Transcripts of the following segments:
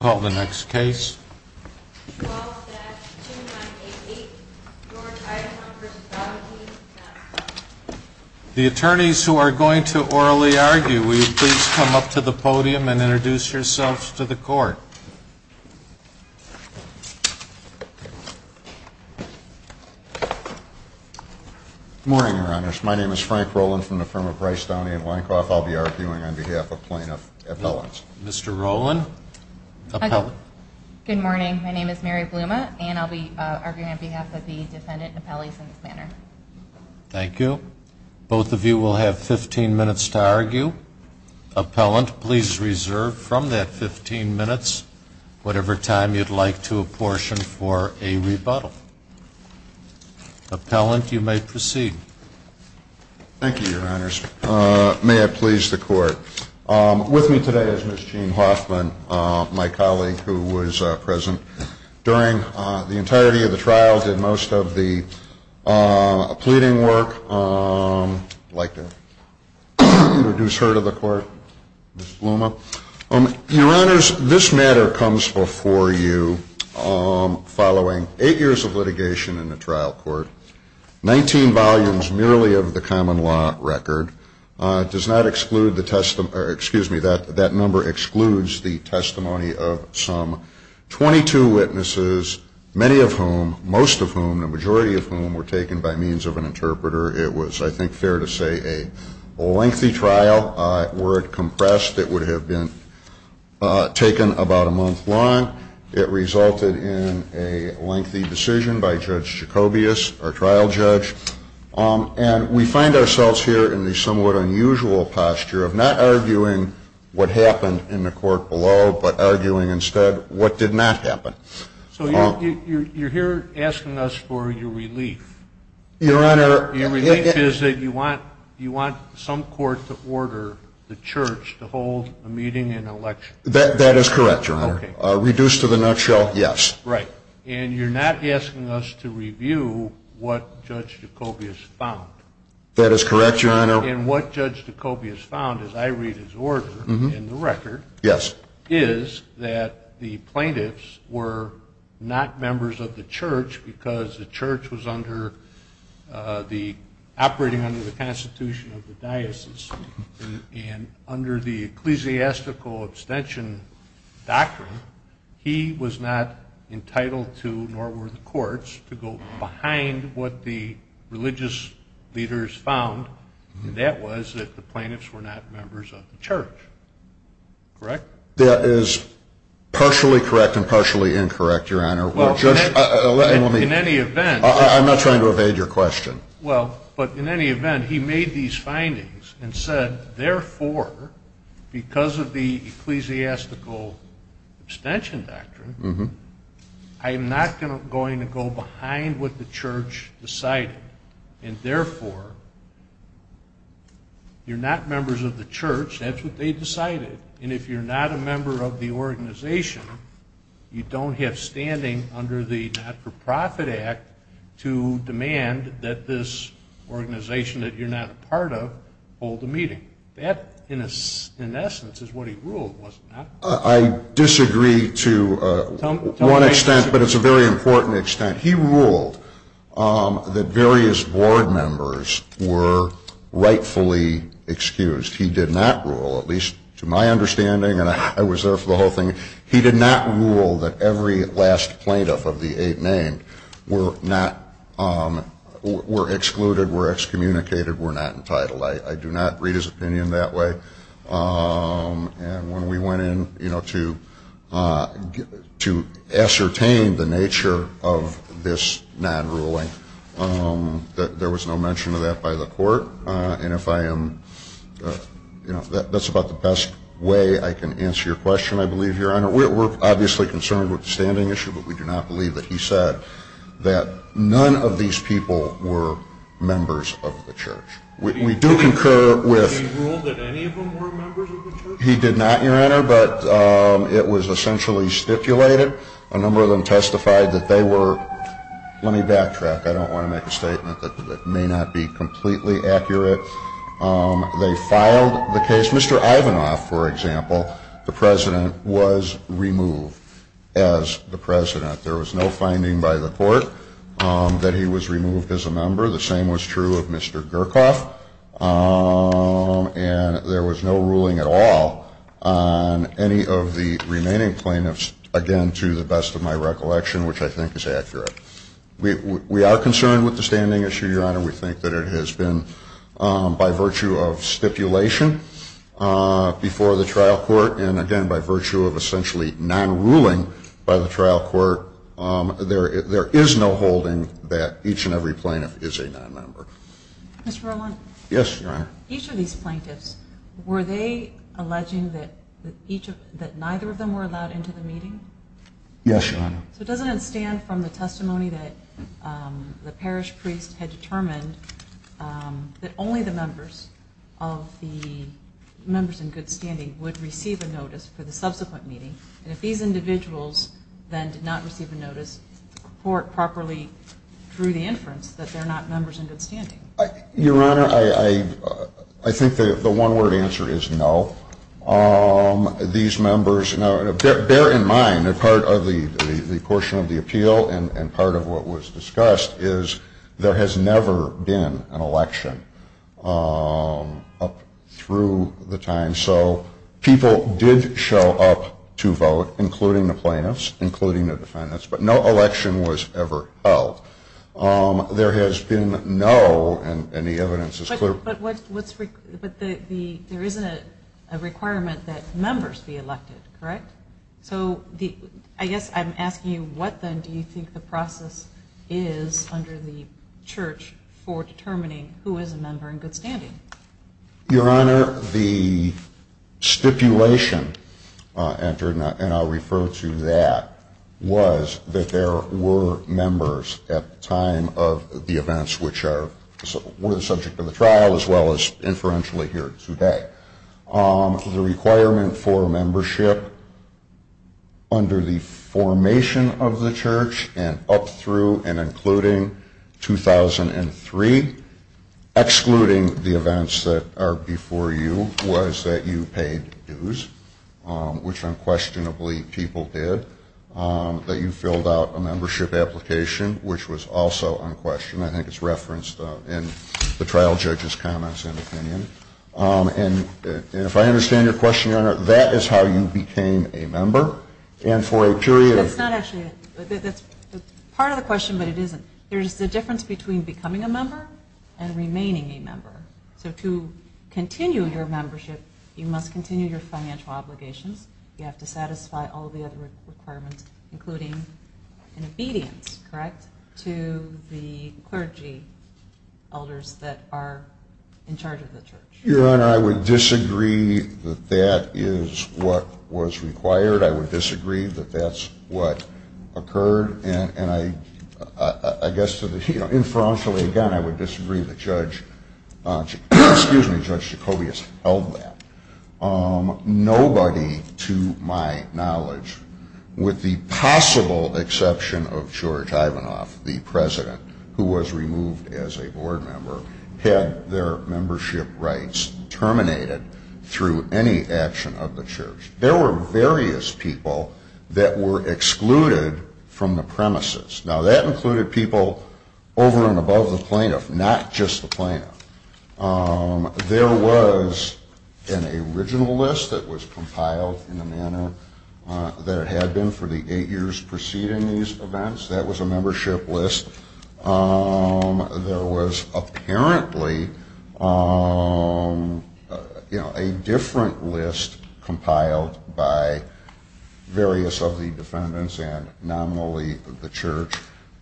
The attorneys who are going to orally argue, will you please come up to the podium and introduce yourselves to the court. Good morning, your honors. My name is Frank Roland from the firm of Rice, Downey & Weinkauf. I'll be arguing on behalf of plaintiff appellants. Mr. Roland, appellant. Good morning, my name is Mary Bluma and I'll be arguing on behalf of the defendant appellees in this manner. Thank you. Both of you will have 15 minutes to argue. Appellant, please reserve from that 15 minutes whatever time you'd like to apportion for a rebuttal. Appellant, you may proceed. Thank you, your honors. May I please the court. With me today is Ms. Jean Hoffman, my colleague who was present during the entirety of the trial, did most of the pleading work. I'd like to introduce her to the court, Ms. Bluma. Your honors, this matter comes before you following eight years of litigation in the trial court, 19 volumes merely of the common law record. That number excludes the testimony of some 22 witnesses, many of whom, most of whom, the majority of whom were taken by means of an interpreter. It was, I think, fair to say a lengthy trial. Were it compressed, it would have been taken about a month long. It resulted in a lengthy decision by Judge Jacobius, our trial judge. And we find ourselves here in the somewhat unusual posture of not arguing what happened in the court below, but arguing instead what did not happen. So you're here asking us for your relief. Your honor. Your relief is that you want you want some court to order the church to hold a meeting and election. That is correct, your honor. Reduced to the nutshell, yes. Right. And you're not asking us to review what Judge Jacobius found. That is correct, your honor. And what Judge Jacobius found, as I read his order in the record. Yes. Is that the plaintiffs were not members of the church because the church was under the operating under the Constitution of the diocese. And under the ecclesiastical abstention doctrine, he was not entitled to nor were the courts to go behind what the religious leaders found. And that was that the plaintiffs were not members of the church. Correct. That is partially correct and partially incorrect, your honor. Well, in any event, I'm not trying to evade your question. Well, but in any event, he made these findings and said, therefore, because of the ecclesiastical abstention doctrine, I am not going to go behind what the church decided. And therefore, you're not members of the church. That's what they decided. And if you're not a member of the organization, you don't have standing under the Not-for-Profit Act to demand that this organization that you're not a part of hold a meeting. That, in essence, is what he ruled, wasn't it? I disagree to one extent, but it's a very important extent. He ruled that various board members were rightfully excused. He did not rule, at least to my understanding, and I was there for the whole thing, he did not rule that every last plaintiff of the eight named were excluded, were excommunicated, were not entitled. I do not read his opinion that way. And when we went in to ascertain the nature of this non-ruling, there was no mention of that by the court. And if I am, you know, that's about the best way I can answer your question, I believe, Your Honor. We're obviously concerned with the standing issue, but we do not believe that he said that none of these people were members of the church. We do concur with... Did he rule that any of them were members of the church? He did not, Your Honor, but it was essentially stipulated. A number of them testified that they were... I don't want to make a statement that may not be completely accurate. They filed the case. Mr. Ivanoff, for example, the president, was removed as the president. There was no finding by the court that he was removed as a member. The same was true of Mr. Gurkoff. And there was no ruling at all on any of the remaining plaintiffs, again, to the best of my recollection, which I think is accurate. We are concerned with the standing issue, Your Honor. We think that it has been, by virtue of stipulation before the trial court, and again, by virtue of essentially non-ruling by the trial court, there is no holding that each and every plaintiff is a non-member. Mr. Roland? Yes, Your Honor. Each of these plaintiffs, were they alleging that neither of them were allowed into the meeting? Yes, Your Honor. So doesn't it stand from the testimony that the parish priest had determined that only the members of the members in good standing would receive a notice for the subsequent meeting? And if these individuals then did not receive a notice, the court properly drew the inference that they're not members in good standing. Your Honor, I think the one-word answer is no. These members, bear in mind that part of the portion of the appeal, and part of what was discussed, is there has never been an election up through the time. So people did show up to vote, including the plaintiffs, including the defendants, but no election was ever held. There has been no, and the evidence is clear. But there isn't a requirement that members be elected, correct? So I guess I'm asking you, what then do you think the process is under the church for determining who is a member in good standing? Your Honor, the stipulation entered, and I'll refer to that, was that there were members at the time of the events which were the subject of the trial, as well as inferentially here today. The requirement for membership under the formation of the church and up through and including 2003, excluding the events that are before you, was that you paid dues, which unquestionably people did. That you filled out a membership application, which was also unquestioned. I think it's referenced in the trial judge's comments and opinion. And if I understand your question, Your Honor, that is how you became a member, and for a period of That's not actually, that's part of the question, but it isn't. There's a difference between becoming a member and remaining a member. So to continue your membership, you must continue your financial obligations. You have to satisfy all the other requirements, including an obedience, correct, to the clergy elders that are in charge of the church. Your Honor, I would disagree that that is what was required. I would disagree that that's what occurred. And I guess, inferentially again, I would disagree that Judge Jacoby has held that. Nobody, to my knowledge, with the possible exception of George Ivanoff, the president, who was removed as a board member, had their membership rights terminated through any action of the church. There were various people that were excluded from the premises. Now, that included people over and above the plaintiff, not just the plaintiff. There was an original list that was compiled in the manner that it had been for the eight years preceding these events. That was a membership list. There was apparently a different list compiled by various of the defendants and nominally the church.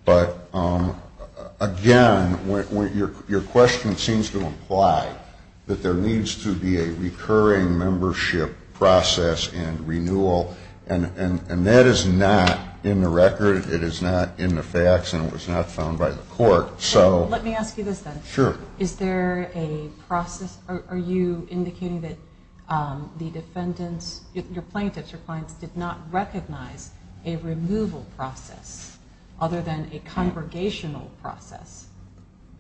But again, your question seems to imply that there needs to be a recurring membership process and renewal, and that is not in the record. It is not in the facts, and it was not found by the court. Let me ask you this, then. Are you indicating that your plaintiffs or clients did not recognize a removal process other than a congregational process?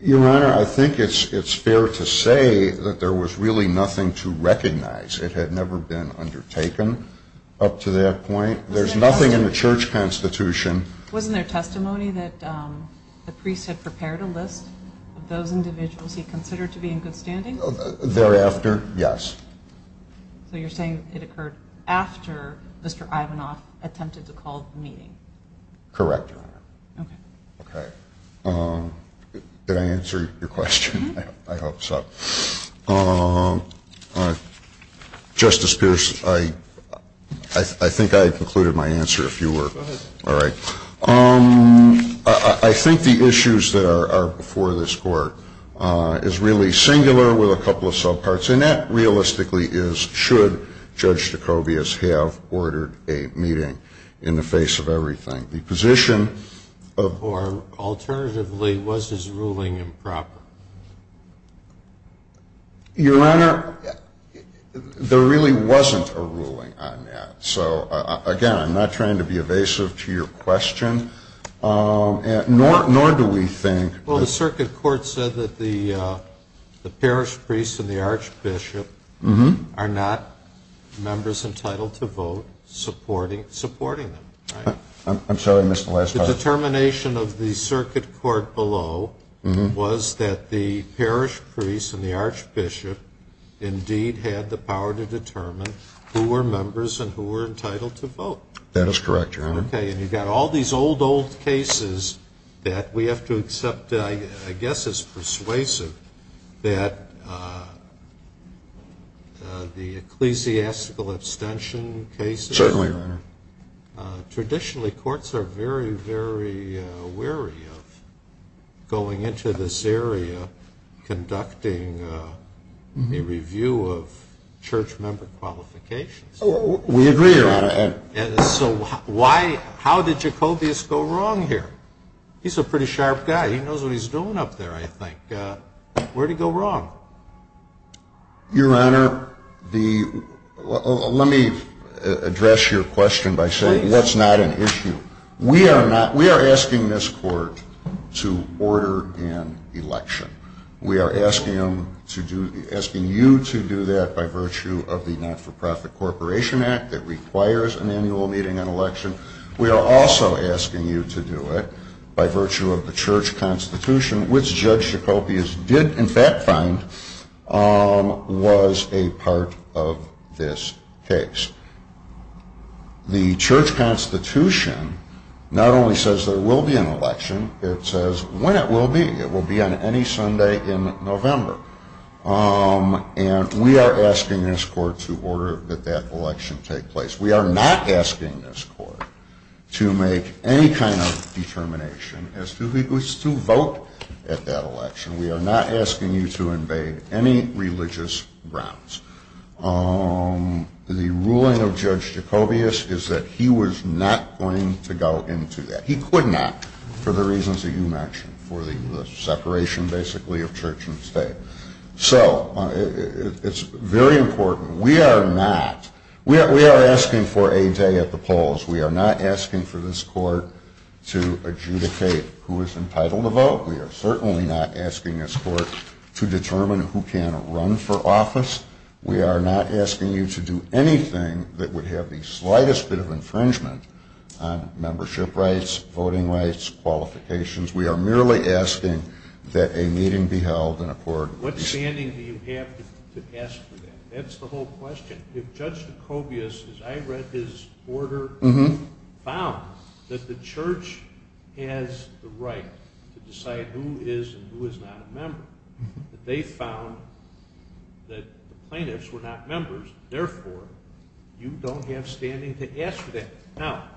Your Honor, I think it's fair to say that there was really nothing to recognize. It had never been undertaken up to that point. There's nothing in the church constitution. Wasn't there testimony that the priest had prepared a list of those individuals he considered to be in good standing? Thereafter, yes. So you're saying it occurred after Mr. Ivanoff attempted to call the meeting? Correct, Your Honor. Did I answer your question? I hope so. Justice Pierce, I think I concluded my answer, if you were. Go ahead. All right. I think the issues that are before this Court is really singular with a couple of subparts, and that realistically is should Judge DeCobias have ordered a meeting in the face of everything. The position of — Or alternatively, was his ruling improper? Your Honor, there really wasn't a ruling on that. So, again, I'm not trying to be evasive to your question, nor do we think — Well, the circuit court said that the parish priests and the archbishop are not members entitled to vote supporting them, right? I'm sorry, I missed the last part. The determination of the circuit court below was that the parish priest and the archbishop indeed had the power to determine who were members and who were entitled to vote. That is correct, Your Honor. Okay, and you've got all these old, old cases that we have to accept, I guess it's persuasive, that the ecclesiastical abstention cases — Certainly, Your Honor. Traditionally, courts are very, very wary of going into this area conducting a review of church member qualifications. We agree, Your Honor. So how did DeCobias go wrong here? He's a pretty sharp guy. He knows what he's doing up there, I think. Where'd he go wrong? Your Honor, let me address your question by saying that's not an issue. We are asking this Court to order an election. We are asking you to do that by virtue of the Not-for-Profit Corporation Act that requires an annual meeting and election. We are also asking you to do it by virtue of the Church Constitution, which Judge DeCobias did in fact find was a part of this case. The Church Constitution not only says there will be an election, it says when it will be. It will be on any Sunday in November. And we are asking this Court to order that that election take place. We are not asking this Court to make any kind of determination as to who is to vote at that election. We are not asking you to invade any religious grounds. The ruling of Judge DeCobias is that he was not going to go into that. He could not for the reasons that you mentioned, for the separation basically of church and state. So it's very important. We are not. We are asking for a day at the polls. We are not asking for this Court to adjudicate who is entitled to vote. We are certainly not asking this Court to determine who can run for office. We are not asking you to do anything that would have the slightest bit of infringement on membership rights, voting rights, qualifications. We are merely asking that a meeting be held in accordance. What standing do you have to ask for that? That's the whole question. If Judge DeCobias, as I read his order, found that the church has the right to decide who is and who is not a member, that they found that the plaintiffs were not members, therefore, you don't have standing to ask for that. Now,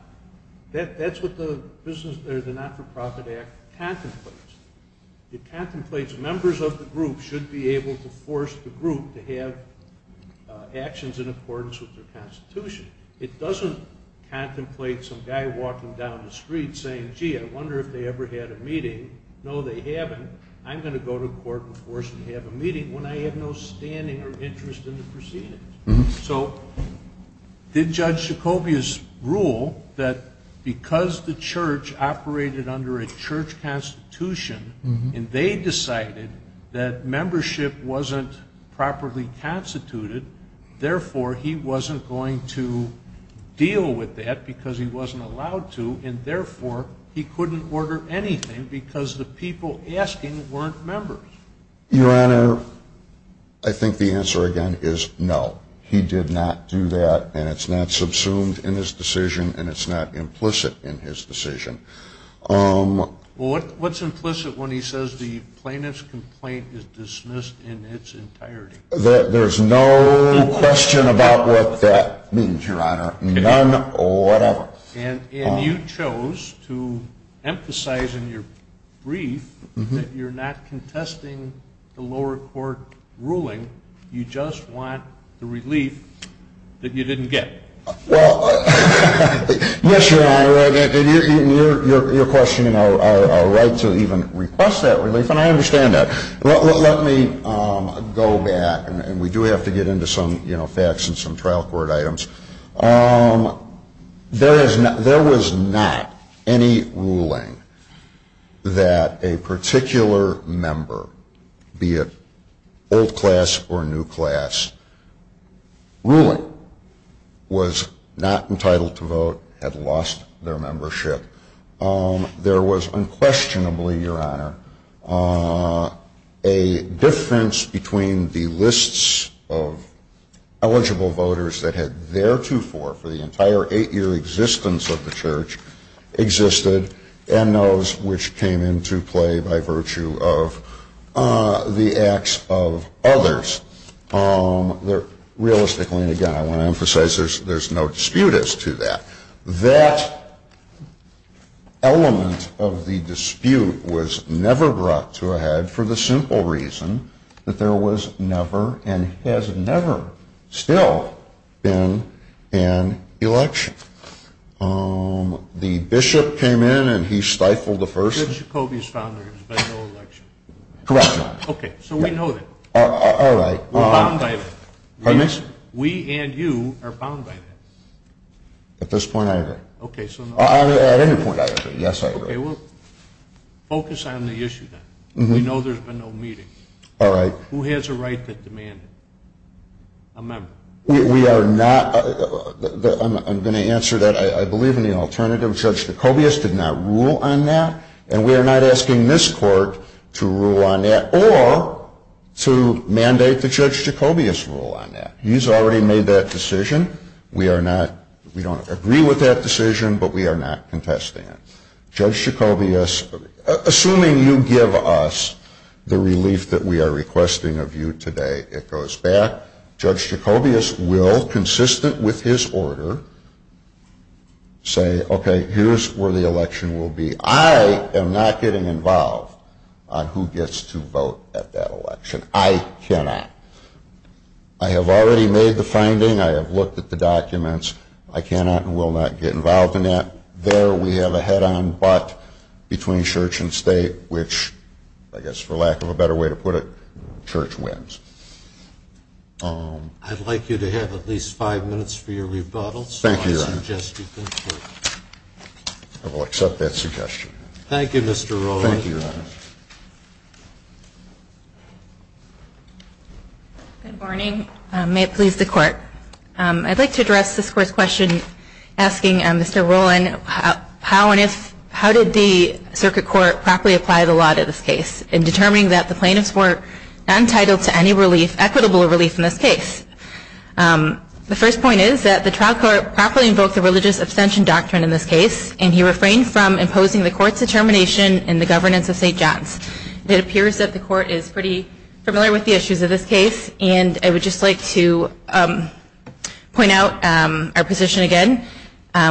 that's what the business or the Not-for-Profit Act contemplates. It contemplates members of the group should be able to force the group to have actions in accordance with their Constitution. It doesn't contemplate some guy walking down the street saying, gee, I wonder if they ever had a meeting. No, they haven't. I'm going to go to court and force them to have a meeting when I have no standing or interest in the proceedings. So did Judge DeCobias rule that because the church operated under a church constitution, and they decided that membership wasn't properly constituted, therefore, he wasn't going to deal with that because he wasn't allowed to, and therefore, he couldn't order anything because the people asking weren't members? Your Honor, I think the answer, again, is no. He did not do that, and it's not subsumed in his decision, and it's not implicit in his decision. Well, what's implicit when he says the plaintiff's complaint is dismissed in its entirety? There's no question about what that means, Your Honor. None, whatever. And you chose to emphasize in your brief that you're not contesting the lower court ruling. You just want the relief that you didn't get. Well, yes, Your Honor, and you're questioning our right to even request that relief, and I understand that. Let me go back, and we do have to get into some facts and some trial court items. There was not any ruling that a particular member, be it old class or new class, ruling was not entitled to vote, had lost their membership. There was unquestionably, Your Honor, a difference between the lists of eligible voters that had theretofore, for the entire eight-year existence of the Church, existed and those which came into play by virtue of the acts of others. Realistically, and again, I want to emphasize there's no dispute as to that. That element of the dispute was never brought to a head for the simple reason that there was never and has never still been an election. The bishop came in, and he stifled the first. Judge Jacobi's founders, but no election. Correct, Your Honor. Okay, so we know that. All right. We're bound by that. Pardon me, sir? We and you are bound by that. At this point, I agree. Okay, so no. At any point, I agree. Yes, I agree. Okay, well, focus on the issue then. We know there's been no meeting. All right. Who has a right that demanded a member? We are not. I'm going to answer that. I believe in the alternative. Judge Jacobi's did not rule on that, and we are not asking this Court to rule on that or to mandate that Judge Jacobi's rule on that. He's already made that decision. We are not. We don't agree with that decision, but we are not contesting it. Judge Jacobi's, assuming you give us the relief that we are requesting of you today, it goes back. Judge Jacobi's will, consistent with his order, say, okay, here's where the election will be. I am not getting involved on who gets to vote at that election. I cannot. I have already made the finding. I have looked at the documents. I cannot and will not get involved in that. There we have a head-on but between church and state, which, I guess for lack of a better way to put it, church wins. I'd like you to have at least five minutes for your rebuttal. Thank you, Your Honor. I will accept that suggestion. Thank you, Mr. Rowe. Thank you, Your Honor. Good morning. May it please the Court. I'd like to address this Court's question asking Mr. Rowland, how did the Circuit Court properly apply the law to this case in determining that the plaintiffs were entitled to any equitable relief in this case? The first point is that the trial court properly invoked the religious abstention doctrine in this case, and he refrained from imposing the Court's determination in the governance of St. John's. It appears that the Court is pretty familiar with the issues of this case, and I would just like to point out our position again,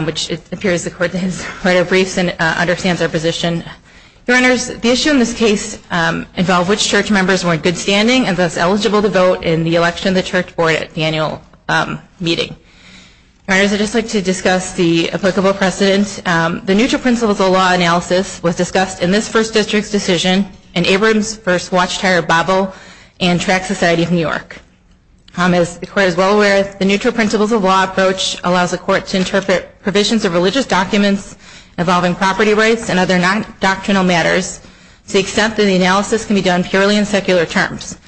which it appears the Court has read our briefs and understands our position. Your Honors, the issue in this case involved which church members were in good standing and thus eligible to vote in the election of the church board at the annual meeting. Your Honors, I'd just like to discuss the applicable precedent. The neutral principles of law analysis was discussed in this First District's decision in Abrams First Watchtower Bible and Track Society of New York. As the Court is well aware, the neutral principles of law approach allows the Court to interpret provisions of religious documents involving property rights and other non-doctrinal matters to the extent that the analysis can be done purely in secular terms.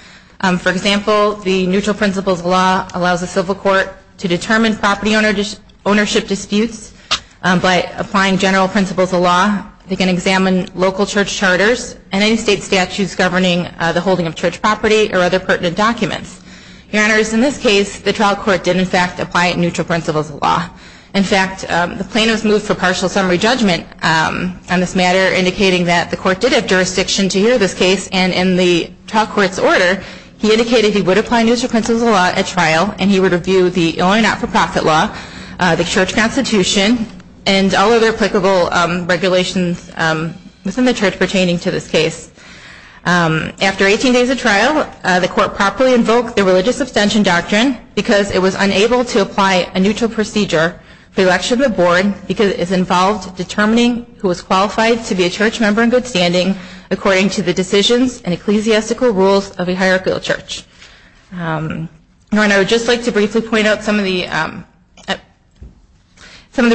For example, the neutral principles of law allows the civil court to determine property ownership disputes by applying general principles of law. They can examine local church charters and any state statutes governing the holding of church property or other pertinent documents. Your Honors, in this case, the trial court did, in fact, apply neutral principles of law. In fact, the plaintiffs moved for partial summary judgment on this matter, indicating that the Court did have jurisdiction to hear this case. And in the trial court's order, he indicated he would apply neutral principles of law at trial and he would review the Illinois not-for-profit law, the church constitution, and all other applicable regulations within the church pertaining to this case. After 18 days of trial, the Court properly invoked the religious abstention doctrine because it was unable to apply a neutral procedure for the election of the board because it involved determining who was qualified to be a church member in good standing according to the decisions and ecclesiastical rules of a hierarchical church. Your Honor, I would just like to briefly point out some of the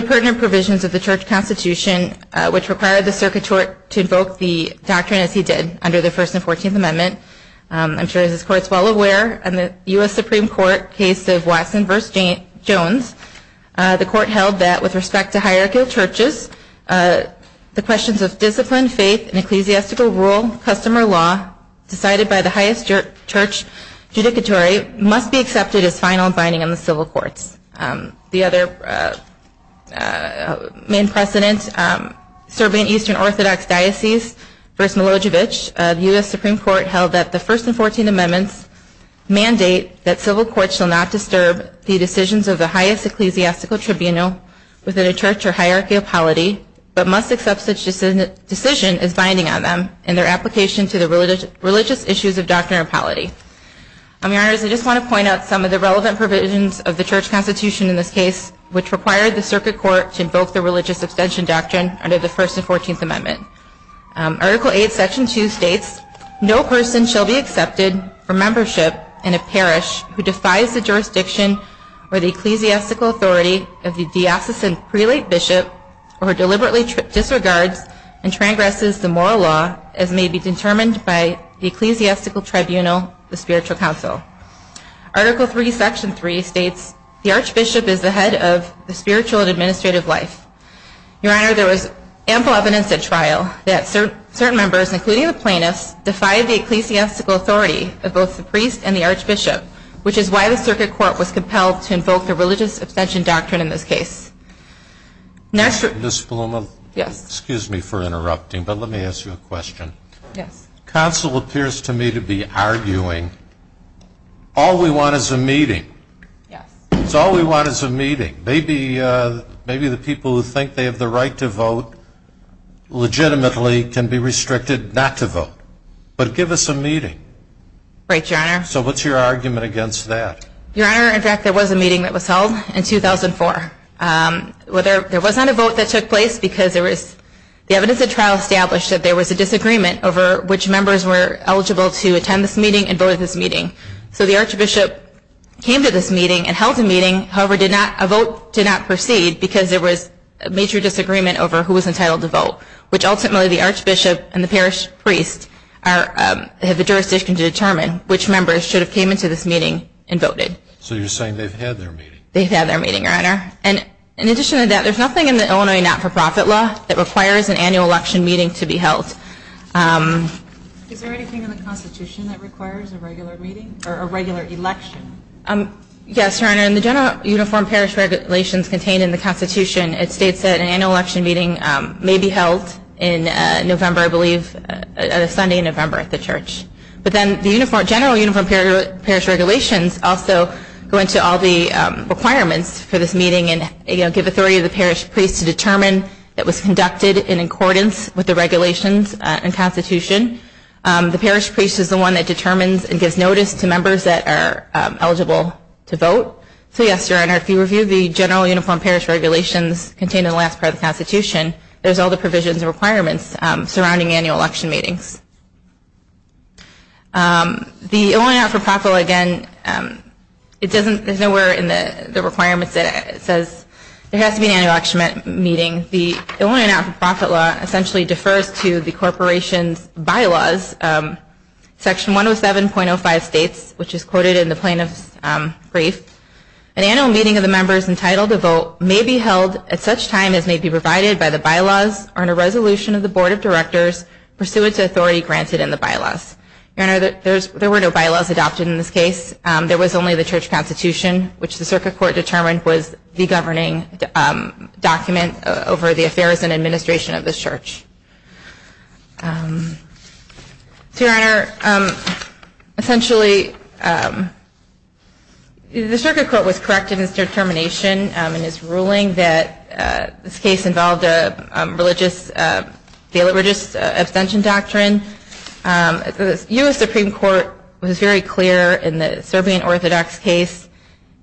pertinent provisions of the church constitution which required the circuit court to invoke the doctrine as he did under the First and Fourteenth Amendment. I'm sure as this Court is well aware, in the U.S. Supreme Court case of Watson v. Jones, the Court held that, with respect to hierarchical churches, the questions of discipline, faith, and ecclesiastical rule, custom, or law decided by the highest church judicatory must be accepted as final binding on the civil courts. The other main precedent, serving Eastern Orthodox Diocese v. Milosevic, the U.S. Supreme Court held that the First and Fourteenth Amendments mandate that civil courts shall not disturb the decisions of the highest ecclesiastical tribunal within a church or hierarchy of polity, but must accept such decision as binding on them and their application to the religious issues of doctrine or polity. Your Honor, I just want to point out some of the relevant provisions of the church constitution in this case which required the circuit court to invoke the religious abstention doctrine under the First and Fourteenth Amendment. Article 8, Section 2 states, No person shall be accepted for membership in a parish who defies the jurisdiction or the ecclesiastical authority of the diocesan prelate bishop or who deliberately disregards and transgresses the moral law as may be determined by the ecclesiastical tribunal, the spiritual council. Article 3, Section 3 states, The archbishop is the head of the spiritual and administrative life. Your Honor, there was ample evidence at trial that certain members, including the plaintiffs, defied the ecclesiastical authority of both the priest and the archbishop, which is why the circuit court was compelled to invoke the religious abstention doctrine in this case. Ms. Bluma? Yes. Excuse me for interrupting, but let me ask you a question. Yes. Counsel appears to me to be arguing all we want is a meeting. Yes. So all we want is a meeting. Maybe the people who think they have the right to vote legitimately can be restricted not to vote. But give us a meeting. Right, Your Honor. So what's your argument against that? Your Honor, in fact, there was a meeting that was held in 2004. There was not a vote that took place because the evidence at trial established that there was a disagreement over which members were eligible to attend this meeting and vote at this meeting. So the archbishop came to this meeting and held a meeting, however, a vote did not proceed because there was a major disagreement over who was entitled to vote, which ultimately the archbishop and the parish priest have the jurisdiction to determine which members should have came into this meeting and voted. So you're saying they've had their meeting. They've had their meeting, Your Honor. And in addition to that, there's nothing in the Illinois not-for-profit law that requires an annual election meeting to be held. Is there anything in the Constitution that requires a regular meeting or a regular election? Yes, Your Honor. In the general uniform parish regulations contained in the Constitution, it states that an annual election meeting may be held in November, I believe, Sunday in November at the church. But then the general uniform parish regulations also go into all the requirements for this meeting and give authority to the parish priest to determine that it was conducted in accordance with the regulations in the Constitution. The parish priest is the one that determines and gives notice to members that are eligible to vote. So yes, Your Honor, if you review the general uniform parish regulations contained in the last part of the Constitution, there's all the provisions and requirements surrounding annual election meetings. The Illinois not-for-profit law, again, there's nowhere in the requirements that it says there has to be an annual election meeting. The Illinois not-for-profit law essentially defers to the corporation's bylaws, Section 107.05 states, which is quoted in the plaintiff's brief. An annual meeting of the members entitled to vote may be held at such time as may be provided by the bylaws or in a resolution of the board of directors pursuant to authority granted in the bylaws. Your Honor, there were no bylaws adopted in this case. There was only the church constitution, which the circuit court determined was the governing document over the affairs and administration of the church. Your Honor, essentially, the circuit court was correct in its determination and its ruling that this case involved a religious, the religious abstention doctrine. The U.S. Supreme Court was very clear in the Serbian Orthodox case.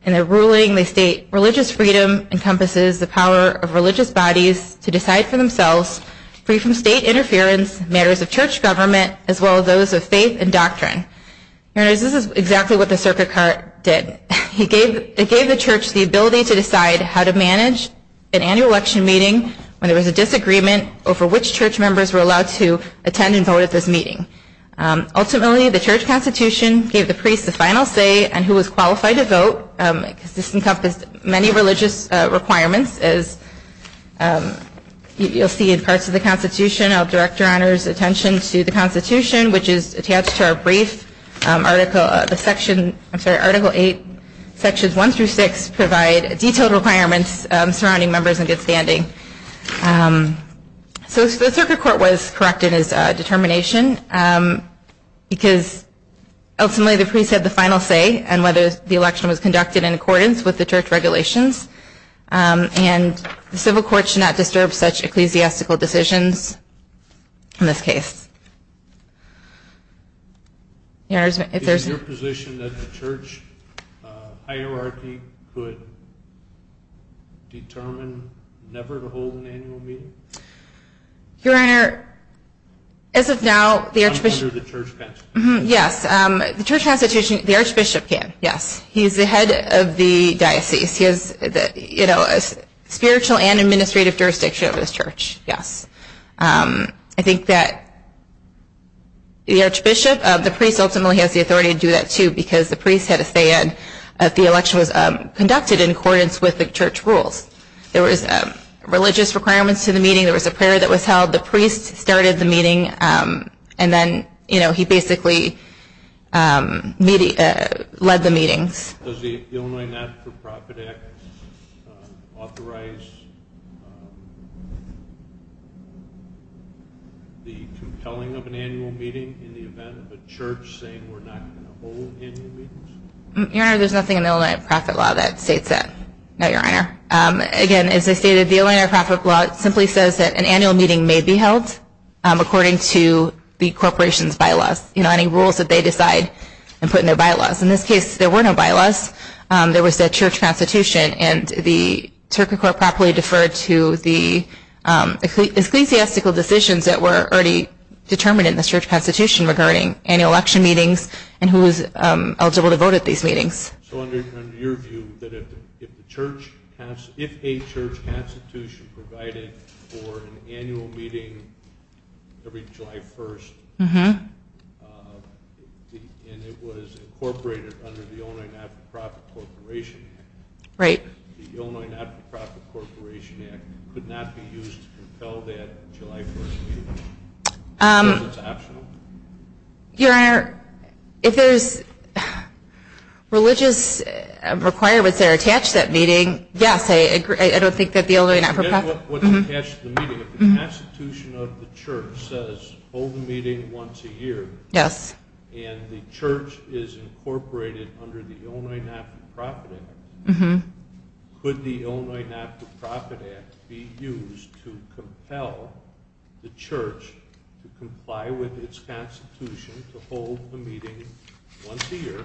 In the ruling, they state, religious freedom encompasses the power of religious bodies to decide for themselves free from state interference, matters of church government, as well as those of faith and doctrine. Your Honor, this is exactly what the circuit court did. It gave the church the ability to decide how to manage an annual election meeting when there was a disagreement over which church members were allowed to attend and vote at this meeting. Ultimately, the church constitution gave the priest the final say on who was qualified to vote. This encompassed many religious requirements, as you'll see in parts of the constitution. I'll direct Your Honor's attention to the constitution, which is attached to our brief, Article 8, Sections 1 through 6, provide detailed requirements surrounding members in good standing. So the circuit court was correct in its determination because, ultimately, the priest had the final say on whether the election was conducted in accordance with the church regulations, and the civil court should not disturb such ecclesiastical decisions in this case. Is it your position that the church hierarchy could determine never to hold an annual meeting? Your Honor, as of now, the Archbishop can. Yes, he's the head of the diocese. He has spiritual and administrative jurisdiction over this church, yes. I think that the Archbishop, the priest ultimately has the authority to do that too because the priest had a say in if the election was conducted in accordance with the church rules. There was religious requirements to the meeting. There was a prayer that was held. The priest started the meeting, and then he basically led the meetings. Does the Illinois Not-for-Profit Act authorize the compelling of an annual meeting in the event of a church saying we're not going to hold annual meetings? Your Honor, there's nothing in the Illinois Not-for-Profit Law that states that. No, Your Honor. Again, as I stated, the Illinois Not-for-Profit Law simply says that an annual meeting may be held according to the corporation's bylaws, any rules that they decide and put in their bylaws. In this case, there were no bylaws. There was a church constitution, and the church court properly deferred to the ecclesiastical decisions that were already determined in the church constitution regarding annual election meetings and who was eligible to vote at these meetings. So under your view, if a church constitution provided for an annual meeting every July 1st, and it was incorporated under the Illinois Not-for-Profit Corporation Act, the Illinois Not-for-Profit Corporation Act could not be used to compel that July 1st meeting? Because it's optional? Your Honor, if there's religious requirements that are attached to that meeting, yes, I agree. I don't think that the Illinois Not-for-Profit... I forget what's attached to the meeting. If the constitution of the church says hold a meeting once a year, and the church is incorporated under the Illinois Not-for-Profit Act, could the Illinois Not-for-Profit Act be used to compel the church to comply with its constitution to hold a meeting once a year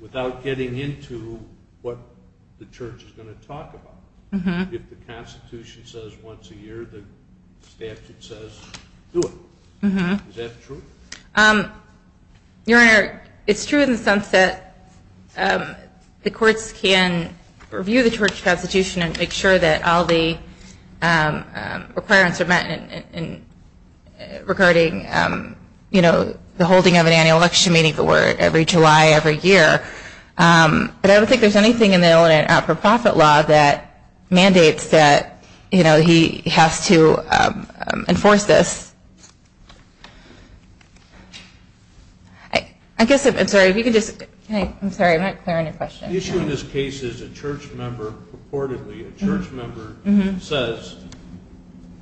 without getting into what the church is going to talk about? If the constitution says once a year, the statute says do it. Is that true? Your Honor, it's true in the sense that the courts can review the church constitution and make sure that all the requirements are met regarding, you know, the holding of an annual election meeting every July every year. But I don't think there's anything in the Illinois Not-for-Profit law that mandates that, you know, he has to enforce this. I guess, I'm sorry, if you could just... I'm sorry, I'm not clear on your question. The issue in this case is a church member purportedly, a church member says,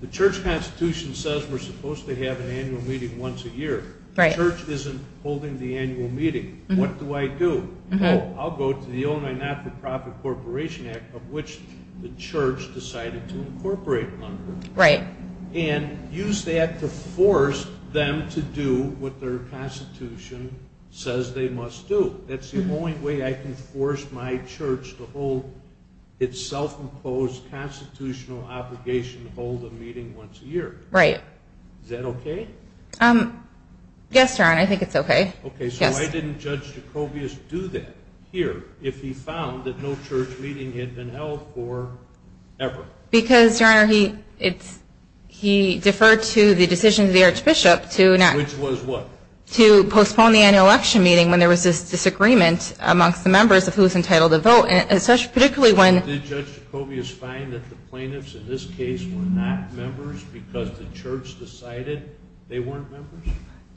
the church constitution says we're supposed to have an annual meeting once a year. The church isn't holding the annual meeting. What do I do? I'll go to the Illinois Not-for-Profit Corporation Act of which the church decided to incorporate under and use that to force them to do what their constitution says they must do. That's the only way I can force my church to hold its self-imposed constitutional obligation to hold a meeting once a year. Right. Is that okay? Yes, Your Honor, I think it's okay. Okay, so why didn't Judge Jacobius do that here if he found that no church meeting had been held for ever? Because, Your Honor, he deferred to the decision of the Archbishop to... Which was what? To postpone the annual election meeting when there was this disagreement amongst the members of who was entitled to vote, particularly when... Did Judge Jacobius find that the plaintiffs in this case were not members because the church decided they weren't members?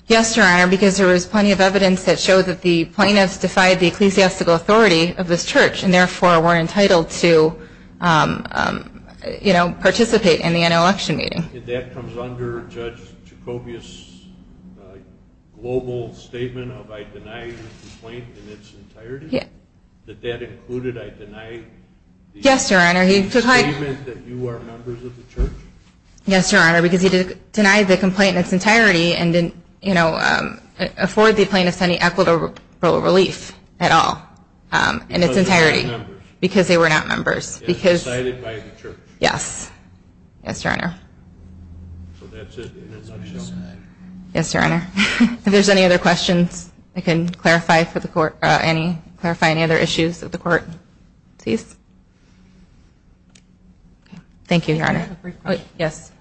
Yes, Your Honor, because there was plenty of evidence that showed that the plaintiffs defied the ecclesiastical authority of this church and therefore were entitled to participate in the annual election meeting. And that comes under Judge Jacobius' global statement of I deny the complaint in its entirety? Yes. That that included I deny the statement that you are members of the church? Yes, Your Honor, because he denied the complaint in its entirety and didn't, you know, afford the plaintiffs any equitable relief at all in its entirety. Because they were not members. Because they were not members. Because they were decided by the church. Yes. Yes, Your Honor. So that's it in a nutshell. Yes, Your Honor. If there's any other questions, I can clarify any other issues of the court. Please. Thank you, Your Honor. I have a brief question. Yes.